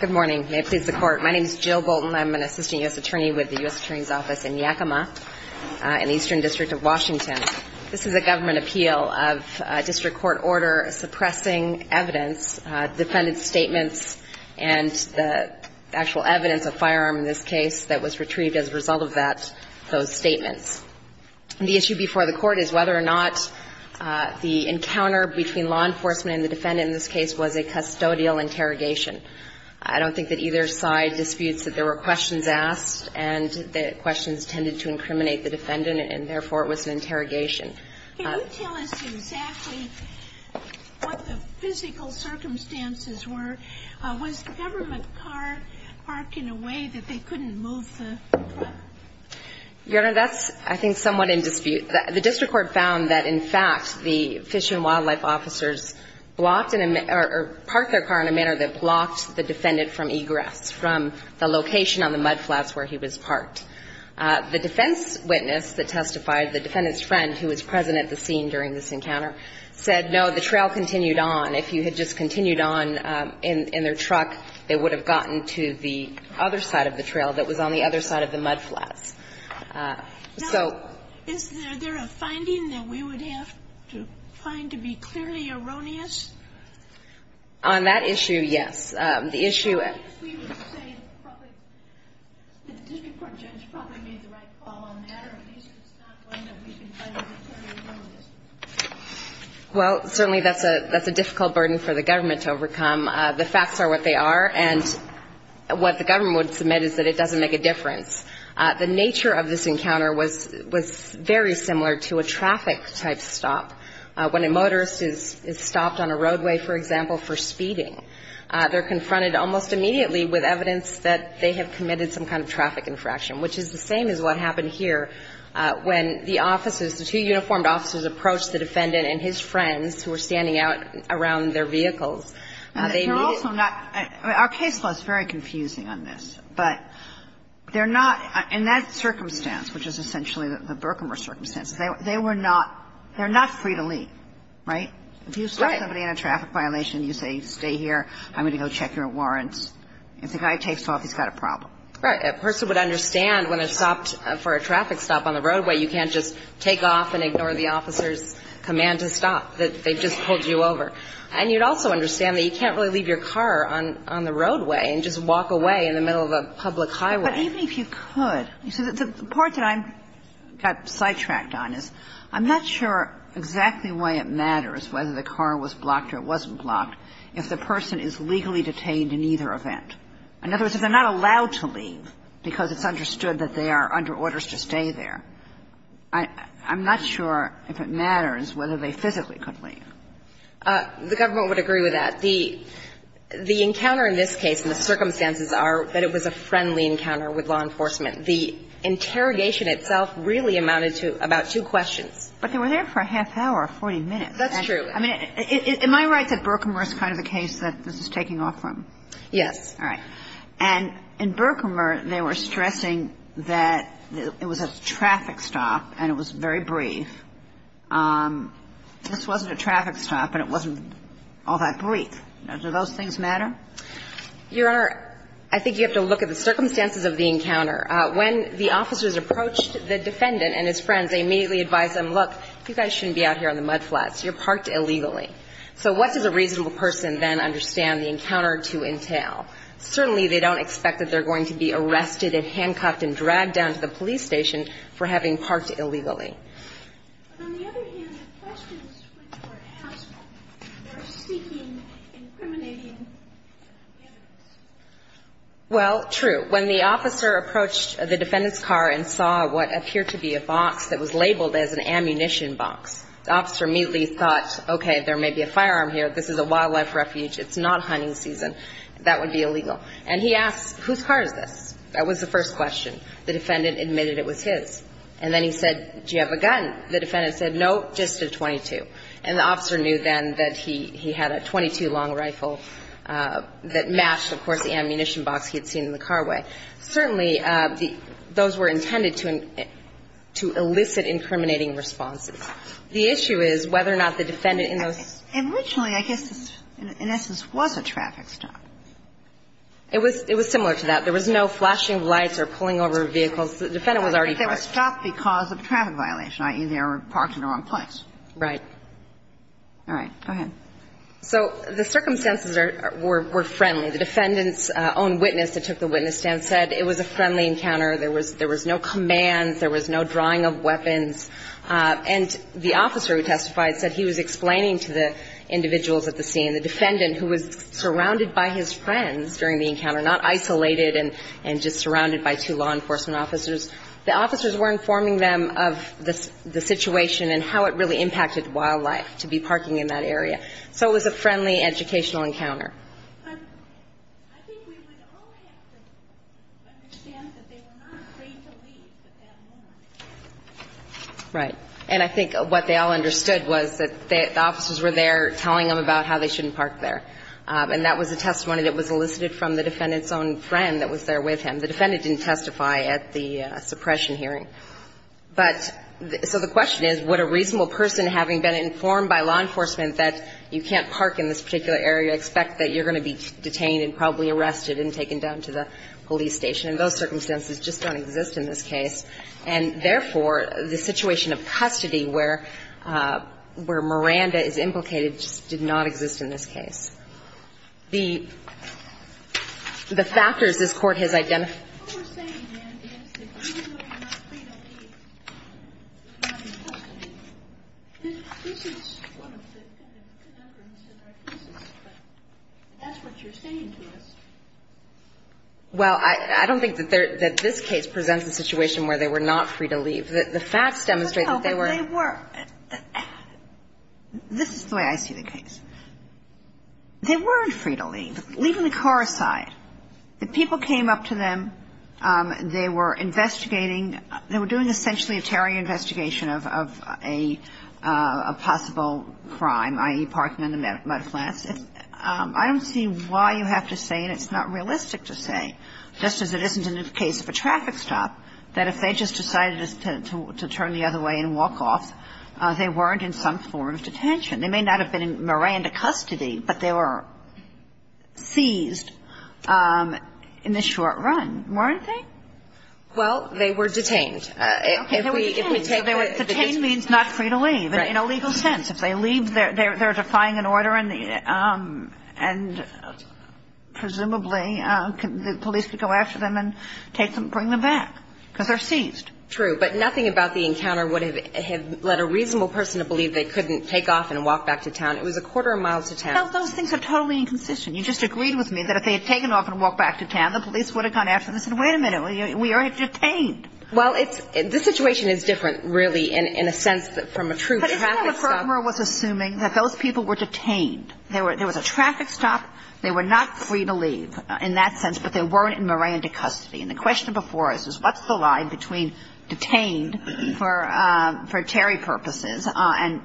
Good morning. May it please the court. My name is Jill Bolton. I'm an assistant U.S. attorney with the U.S. Attorney's Office in Yakima in the Eastern District of Washington. This is a government appeal of a district court order suppressing evidence, defendant statements and the actual evidence of firearm in this case that was retrieved as a result of that, those statements. The issue before the court is whether or not the encounter between law enforcement and the defendant in this case was a custodial interrogation. I don't think that either side disputes that there were questions asked and that questions tended to incriminate the defendant and therefore it was an interrogation. Can you tell us exactly what the physical circumstances were? Was the government trying to park the car, park in a way that they couldn't move the truck? Your Honor, that's, I think, somewhat in dispute. The district court found that, in fact, the Fish and Wildlife officers blocked or parked their car in a manner that blocked the defendant from egress, from the location on the mudflats where he was parked. The defense witness that testified, the defendant's friend who was present at the scene during this encounter, said, no, the trail continued on. If you had just continued on in their truck, they would have gotten to the other side of the trail that was on the other side of the mudflats. So the issue on that issue, yes. The issue at the district court judge probably made the right call on that, or at least it's not one that we can find to be clearly erroneous. Well, certainly that's a difficult burden for the government to overcome, and I don't The facts are what they are, and what the government would submit is that it doesn't make a difference. The nature of this encounter was very similar to a traffic-type stop. When a motorist is stopped on a roadway, for example, for speeding, they're confronted almost immediately with evidence that they have committed some kind of traffic infraction, which is the same as what happened here when the officers, the two uniformed officers approached the defendant and his friends who were standing out around their vehicles. They're also not – our case law is very confusing on this, but they're not – in that circumstance, which is essentially the Berkmer circumstances, they were not – they're not free to leave, right? Right. If you start somebody in a traffic violation, you say, stay here, I'm going to go check your warrants. If the guy takes off, he's got a problem. Right. A person would understand when it's stopped for a traffic stop on the roadway, you can't just take off and ignore the officer's command to stop. They've just pulled you over. And you'd also understand that you can't really leave your car on the roadway and just walk away in the middle of a public highway. But even if you could, you see, the part that I got sidetracked on is, I'm not sure exactly why it matters whether the car was blocked or it wasn't blocked if the person is legally detained in either event. In other words, if they're not allowed to leave because it's understood that they are under orders to stay there, I'm not sure if it matters whether the person is legally detained or not. The government would agree with that. The encounter in this case and the circumstances are that it was a friendly encounter with law enforcement. The interrogation itself really amounted to about two questions. But they were there for a half hour, 40 minutes. That's true. I mean, am I right that Berkmer is kind of the case that this is taking off from? Yes. All right. And in Berkmer, they were stressing that it was a traffic stop and it was very brief. This wasn't a traffic stop and it wasn't all that brief. Now, do those things matter? Your Honor, I think you have to look at the circumstances of the encounter. When the officers approached the defendant and his friends, they immediately advised them, look, you guys shouldn't be out here on the mudflats. You're parked illegally. So what does a reasonable person then understand the encounter to entail? Certainly, they don't expect that they're going to be arrested and handcuffed and dragged down to the police station for having parked illegally. But on the other hand, the questions which were asked are seeking incriminating evidence. Well, true. When the officer approached the defendant's car and saw what appeared to be a box that was labeled as an ammunition box, the officer immediately thought, okay, there may be a firearm here. This is a wildlife refuge. It's not hunting season. That would be illegal. And he asked, whose car is this? That was the first question. The defendant admitted it was his. And then he said, do you have a gun? The defendant said, no, just a .22. And the officer knew then that he had a .22 long rifle that matched, of course, the ammunition box he had seen in the car way. Certainly, those were intended to elicit incriminating responses. The issue is whether or not the defendant in those ---- Originally, I guess this, in essence, was a traffic stop. It was similar to that. There was no flashing of lights or pulling over vehicles. The defendant was already parked. But they were stopped because of traffic violation, i.e., they were parked in the wrong place. Right. All right. Go ahead. So the circumstances were friendly. The defendant's own witness that took the witness stand said it was a friendly encounter. There was no commands. There was no drawing of weapons. And the officer who testified said he was explaining to the encounter, not isolated and just surrounded by two law enforcement officers. The officers were informing them of the situation and how it really impacted wildlife to be parking in that area. So it was a friendly educational encounter. I think we would all have to understand that they were not afraid to leave at that moment. Right. And I think what they all understood was that the officers were there telling them about how they shouldn't park there. And that was a testimony that was elicited from the defendant's own friend that was there with him. The defendant didn't testify at the suppression hearing. But so the question is, would a reasonable person, having been informed by law enforcement that you can't park in this particular area, expect that you're going to be detained and probably arrested and taken down to the police station? And those circumstances just don't exist in this case. And, therefore, the situation of custody where Miranda is implicated just did not exist in this case. The factors this Court has identified. What we're saying, then, is that even though you're not free to leave, you're not in custody. This is one of the kind of conundrums in our cases, but that's what you're saying to us. Well, I don't think that this case presents a situation where they were not free to leave. The facts demonstrate that they were. But they were. This is the way I see the case. They weren't free to leave, leaving the car aside. The people came up to them. They were investigating. They were doing essentially a terror investigation of a possible crime, i.e., parking on the And I think it's not realistic to say, just as it isn't in the case of a traffic stop, that if they just decided to turn the other way and walk off, they weren't in some form of detention. They may not have been in Miranda custody, but they were seized in the short run, weren't they? Okay. They were detained. Detained means not free to leave in a legal sense. If they leave, they're defying an order and presumably the police could go after them and bring them back because they're seized. True. But nothing about the encounter would have led a reasonable person to believe they couldn't take off and walk back to town. It was a quarter of a mile to town. Those things are totally inconsistent. You just agreed with me that if they had taken off and walked back to town, the police would have gone after them and said, wait a minute, we are detained. Well, it's – this situation is different, really, in a sense, from a true traffic stop. But isn't it what Kramer was assuming, that those people were detained? There was a traffic stop. They were not free to leave in that sense, but they weren't in Miranda custody. And the question before us is, what's the line between detained for Terry purposes and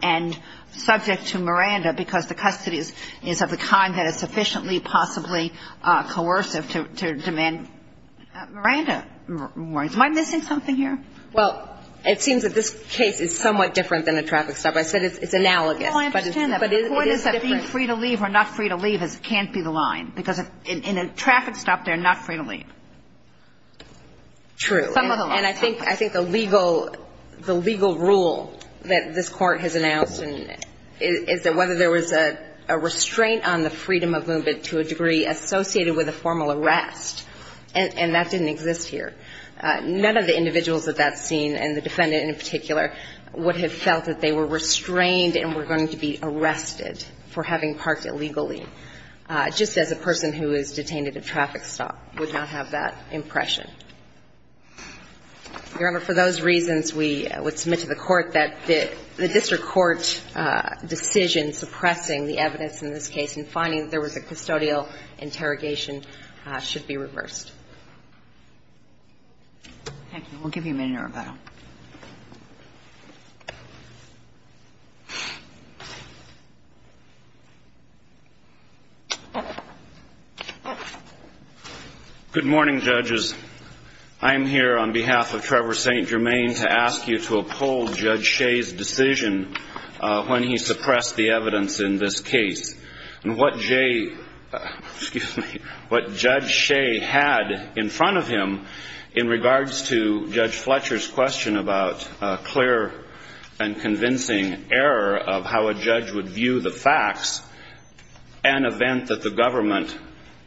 subject to Miranda because the custody is of the kind that is sufficiently possibly coercive to demand Miranda warnings? Am I missing something here? Well, it seems that this case is somewhat different than a traffic stop. I said it's analogous. No, I understand that. But it is different. The point is that being free to leave or not free to leave can't be the line because in a traffic stop, they're not free to leave. True. Some of them are. And I think the legal – the legal rule that this Court has announced is that whether there was a restraint on the freedom of movement to a degree associated with a formal arrest, and that didn't exist here, none of the individuals at that scene, and the defendant in particular, would have felt that they were restrained and were going to be arrested for having parked illegally, just as a person who is detained at a traffic stop would not have that impression. Your Honor, for those reasons, we would submit to the Court that the district court decision suppressing the evidence in this case and finding that there was a custodial interrogation should be reversed. Thank you. We'll give you a minute, Roberto. Good morning, judges. I am here on behalf of Trevor St. Germain to ask you to uphold Judge Shea's decision when he suppressed the evidence in this case. And what J – excuse me – what Judge Shea had in front of him in regards to Judge Fletcher's question about a clear and convincing error of how a judge would view the facts, an event that the government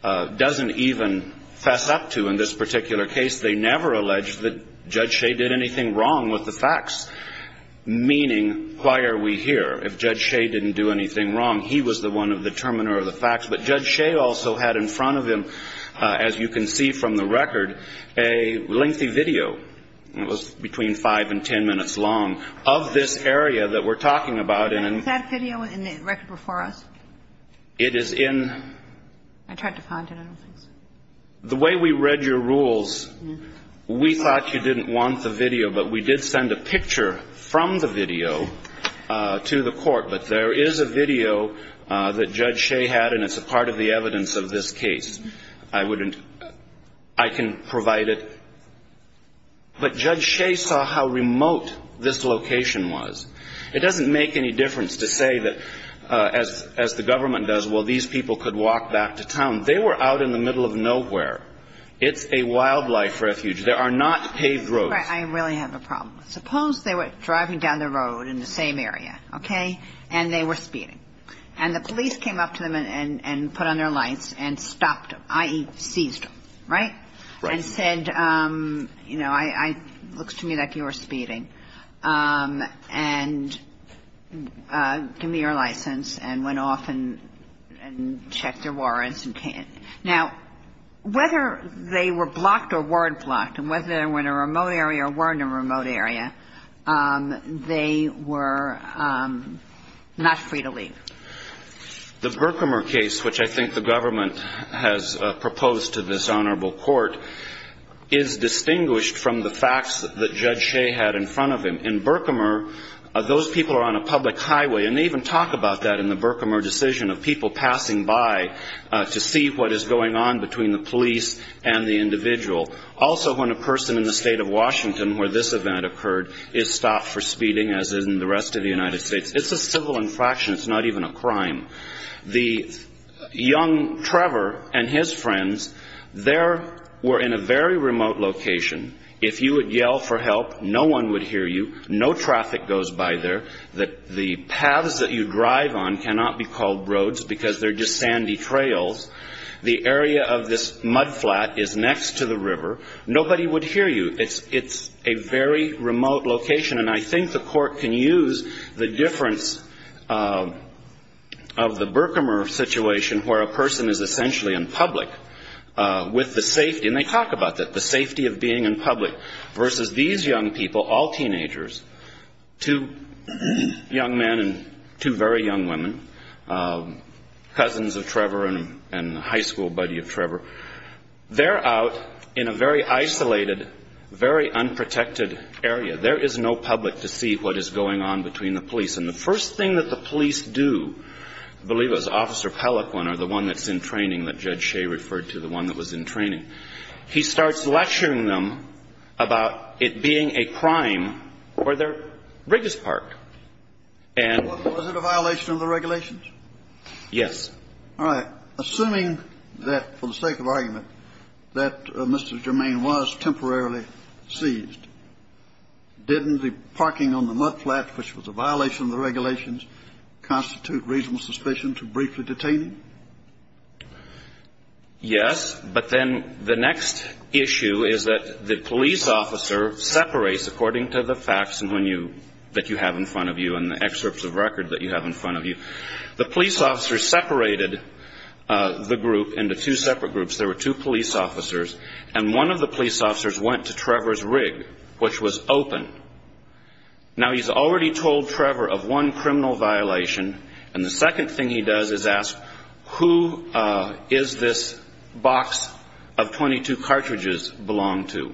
doesn't even fess up to in this particular case. They never alleged that Judge Shea did anything wrong with the facts, meaning why are we here if Judge Shea didn't do anything wrong? He was the one of the determiner of the facts. But Judge Shea also had in front of him, as you can see from the record, a lengthy video, and it was between 5 and 10 minutes long, of this area that we're talking about. Is that video in the record before us? It is in – I tried to find it. The way we read your rules, we thought you didn't want the video, but we did send a video to the court, but there is a video that Judge Shea had, and it's a part of the evidence of this case. I wouldn't – I can provide it. But Judge Shea saw how remote this location was. It doesn't make any difference to say that, as the government does, well, these people could walk back to town. They were out in the middle of nowhere. It's a wildlife refuge. There are not paved roads. Right. I really have a problem. Suppose they were driving down the road in the same area, okay, and they were speeding. And the police came up to them and put on their lights and stopped them, i.e., seized them, right? Right. And said, you know, looks to me like you were speeding, and give me your license, and went off and checked their warrants. Now, whether they were blocked or weren't blocked, and whether they were in a remote area or weren't in a remote area, they were not free to leave. The Berkemer case, which I think the government has proposed to this honorable court, is distinguished from the facts that Judge Shea had in front of him. In Berkemer, those people are on a public highway. And they even talk about that in the Berkemer decision of people passing by to see what is going on between the police and the individual. Also, when a person in the state of Washington where this event occurred is stopped for speeding, as in the rest of the United States, it's a civil infraction. It's not even a crime. The young Trevor and his friends, they were in a very remote location. If you would yell for help, no one would hear you. No traffic goes by there. The paths that you drive on cannot be called roads because they're just sandy trails. The area of this mudflat is next to the river. Nobody would hear you. It's a very remote location. And I think the court can use the difference of the Berkemer situation where a person is essentially in public with the safety, and they talk about that, the safety of being in public, versus these young people, all teenagers, two young men and two very young women, cousins of Trevor and high school buddy of Trevor. They're out in a very isolated, very unprotected area. There is no public to see what is going on between the police. And the first thing that the police do, I believe it was Officer Pellaquin or the one that's in training that Judge Shea referred to, the one that was in training, he starts lecturing them about it being a crime or they're Briggs Park. And Was it a violation of the regulations? Yes. All right. Assuming that, for the sake of argument, that Mr. Germain was temporarily seized, didn't the parking on the mudflat, which was a violation of the regulations, constitute reasonable suspicion to briefly detain him? Yes. But then the next issue is that the police officer separates according to the facts that you have in front of you and the excerpts of record that you have in front of you. The police officer separated the group into two separate groups. There were two police officers, and one of the police officers went to Trevor's rig, which was open. Now, he's already told Trevor of one criminal violation, and the second thing he does is ask, who is this box of 22 cartridges belong to?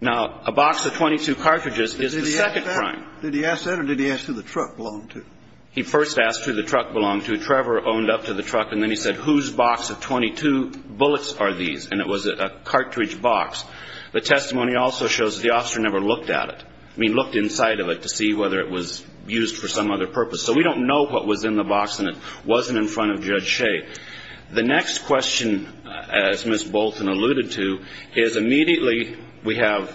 Now, a box of 22 cartridges is the second crime. Did he ask that, or did he ask who the truck belonged to? He first asked who the truck belonged to. Trevor owned up to the truck, and then he said, whose box of 22 bullets are these? And it was a cartridge box. The testimony also shows the officer never looked at it, I mean, looked inside of it to see whether it was used for some other purpose. So we don't know what was in the box and it wasn't in front of Judge Shea. The next question, as Ms. Bolton alluded to, is immediately we have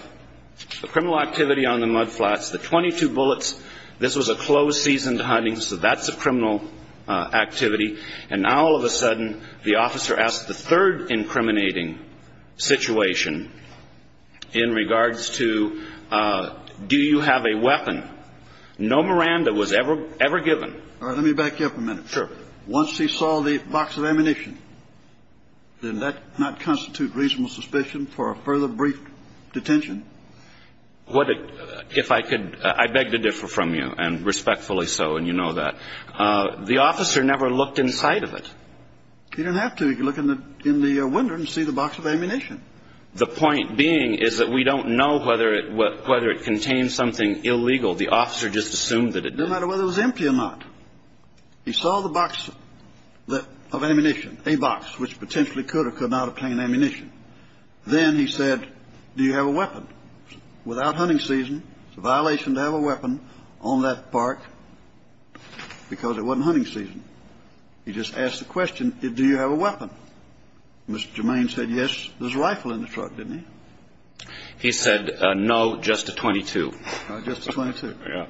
a criminal activity on the mudflats. The 22 bullets, this was a closed-season hunting, so that's a criminal activity. And now all of a sudden the officer asks the third incriminating situation in regards to do you have a weapon. No Miranda was ever given. All right, let me back you up a minute. Sure. Once he saw the box of ammunition, then that does not constitute reasonable suspicion for a further brief detention. If I could, I beg to differ from you, and respectfully so, and you know that. The officer never looked inside of it. He didn't have to. He could look in the window and see the box of ammunition. The point being is that we don't know whether it contains something illegal. The officer just assumed that it did. It doesn't matter whether it was empty or not. He saw the box of ammunition, a box, which potentially could or could not obtain ammunition. Then he said, do you have a weapon? Without hunting season, it's a violation to have a weapon on that park because it wasn't hunting season. He just asked the question, do you have a weapon? Mr. Germain said yes. There's a rifle in the truck, didn't he? He said no, just a .22. Just a .22. Yeah.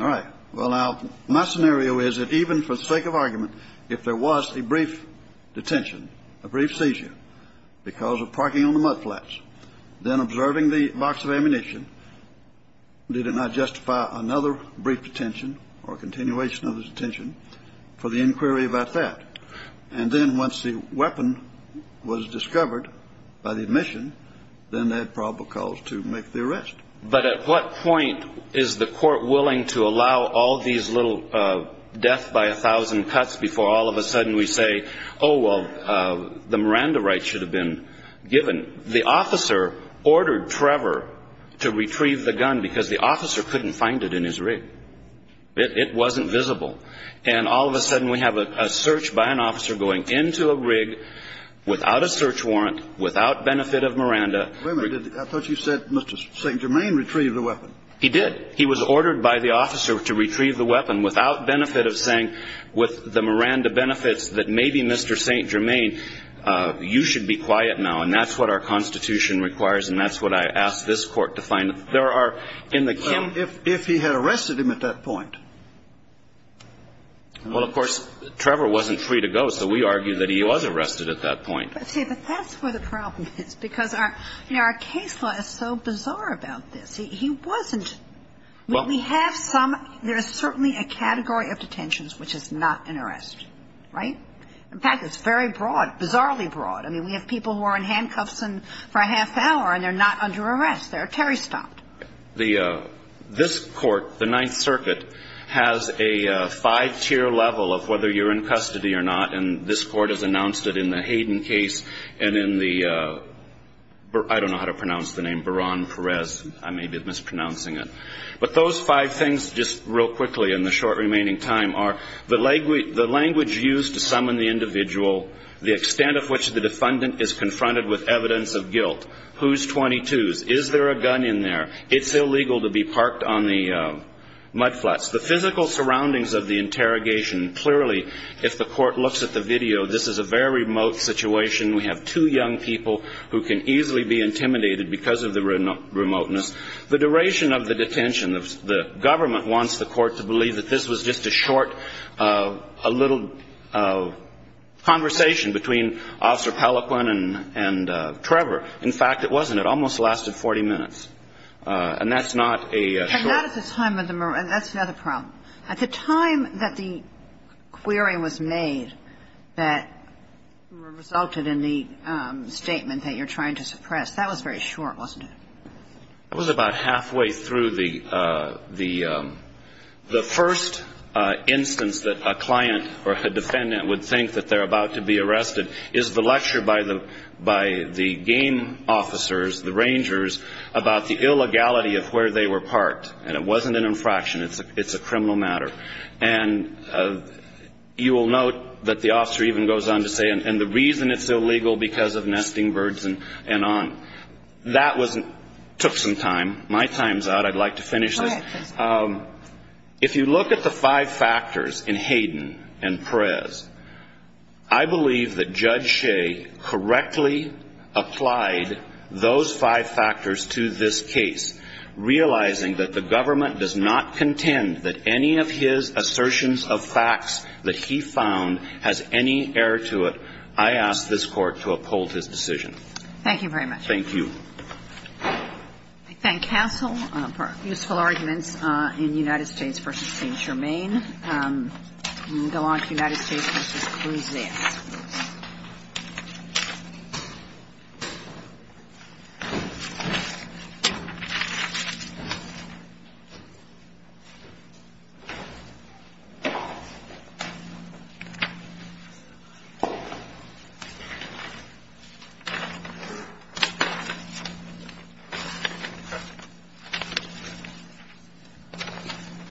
All right. Well, now, my scenario is that even for sake of argument, if there was a brief detention, a brief seizure because of parking on the mudflats, then observing the box of ammunition, did it not justify another brief detention or continuation of the detention for the inquiry about that? And then once the weapon was discovered by the admission, then they had probable cause to make the arrest. But at what point is the court willing to allow all these little death by a thousand cuts before all of a sudden we say, oh, well, the Miranda rights should have been given? The officer ordered Trevor to retrieve the gun because the officer couldn't find it in his rig. It wasn't visible. And all of a sudden we have a search by an officer going into a rig without a search warrant, without benefit of Miranda. Wait a minute. I thought you said Mr. St. Germain retrieved the weapon. He did. He was ordered by the officer to retrieve the weapon without benefit of saying, with the Miranda benefits, that maybe Mr. St. Germain, you should be quiet now, and that's what our Constitution requires, and that's what I ask this Court to find. There are, in the case. If he had arrested him at that point. Well, of course, Trevor wasn't free to go, so we argue that he was arrested at that point. See, but that's where the problem is, because our case law is so bizarre about this. He wasn't. When we have some, there is certainly a category of detentions which is not an arrest, right? In fact, it's very broad, bizarrely broad. I mean, we have people who are in handcuffs for a half hour and they're not under arrest. They're Terry stopped. This Court, the Ninth Circuit, has a five-tier level of whether you're in custody or not, and this Court has announced it in the Hayden case and in the, I don't know how to pronounce the name, Beran Perez. I may be mispronouncing it. But those five things, just real quickly in the short remaining time, are the language used to summon the individual, the extent of which the defendant is confronted with evidence of guilt, who's 22s, is there a gun in there, it's illegal to be parked on the mudflats, the physical surroundings of the interrogation. Clearly, if the Court looks at the video, this is a very remote situation. We have two young people who can easily be intimidated because of the remoteness. The duration of the detention, the government wants the Court to believe that this was just a short, a little conversation between Officer Pelequin and Trevor. In fact, it wasn't. It almost lasted 40 minutes. And that's not a short. At the time of the, that's another problem. At the time that the query was made that resulted in the statement that you're trying to suppress, that was very short, wasn't it? It was about halfway through the first instance that a client or a defendant would think that they're about to be arrested is the lecture by the game officers, the Rangers, about the illegality of where they were parked. And it wasn't an infraction. It's a criminal matter. And you will note that the officer even goes on to say, and the reason it's illegal because of nesting birds and on. That took some time. My time's out. I'd like to finish this. If you look at the five factors in Hayden and Perez, I believe that Judge Shea correctly applied those five factors to this case, realizing that the government does not contend that any of his assertions of facts that he found has any error to it. I ask this Court to uphold his decision. Thank you very much. Thank you. I thank counsel for useful arguments in United States v. St. Germain. Go on to United States v. Cruz there.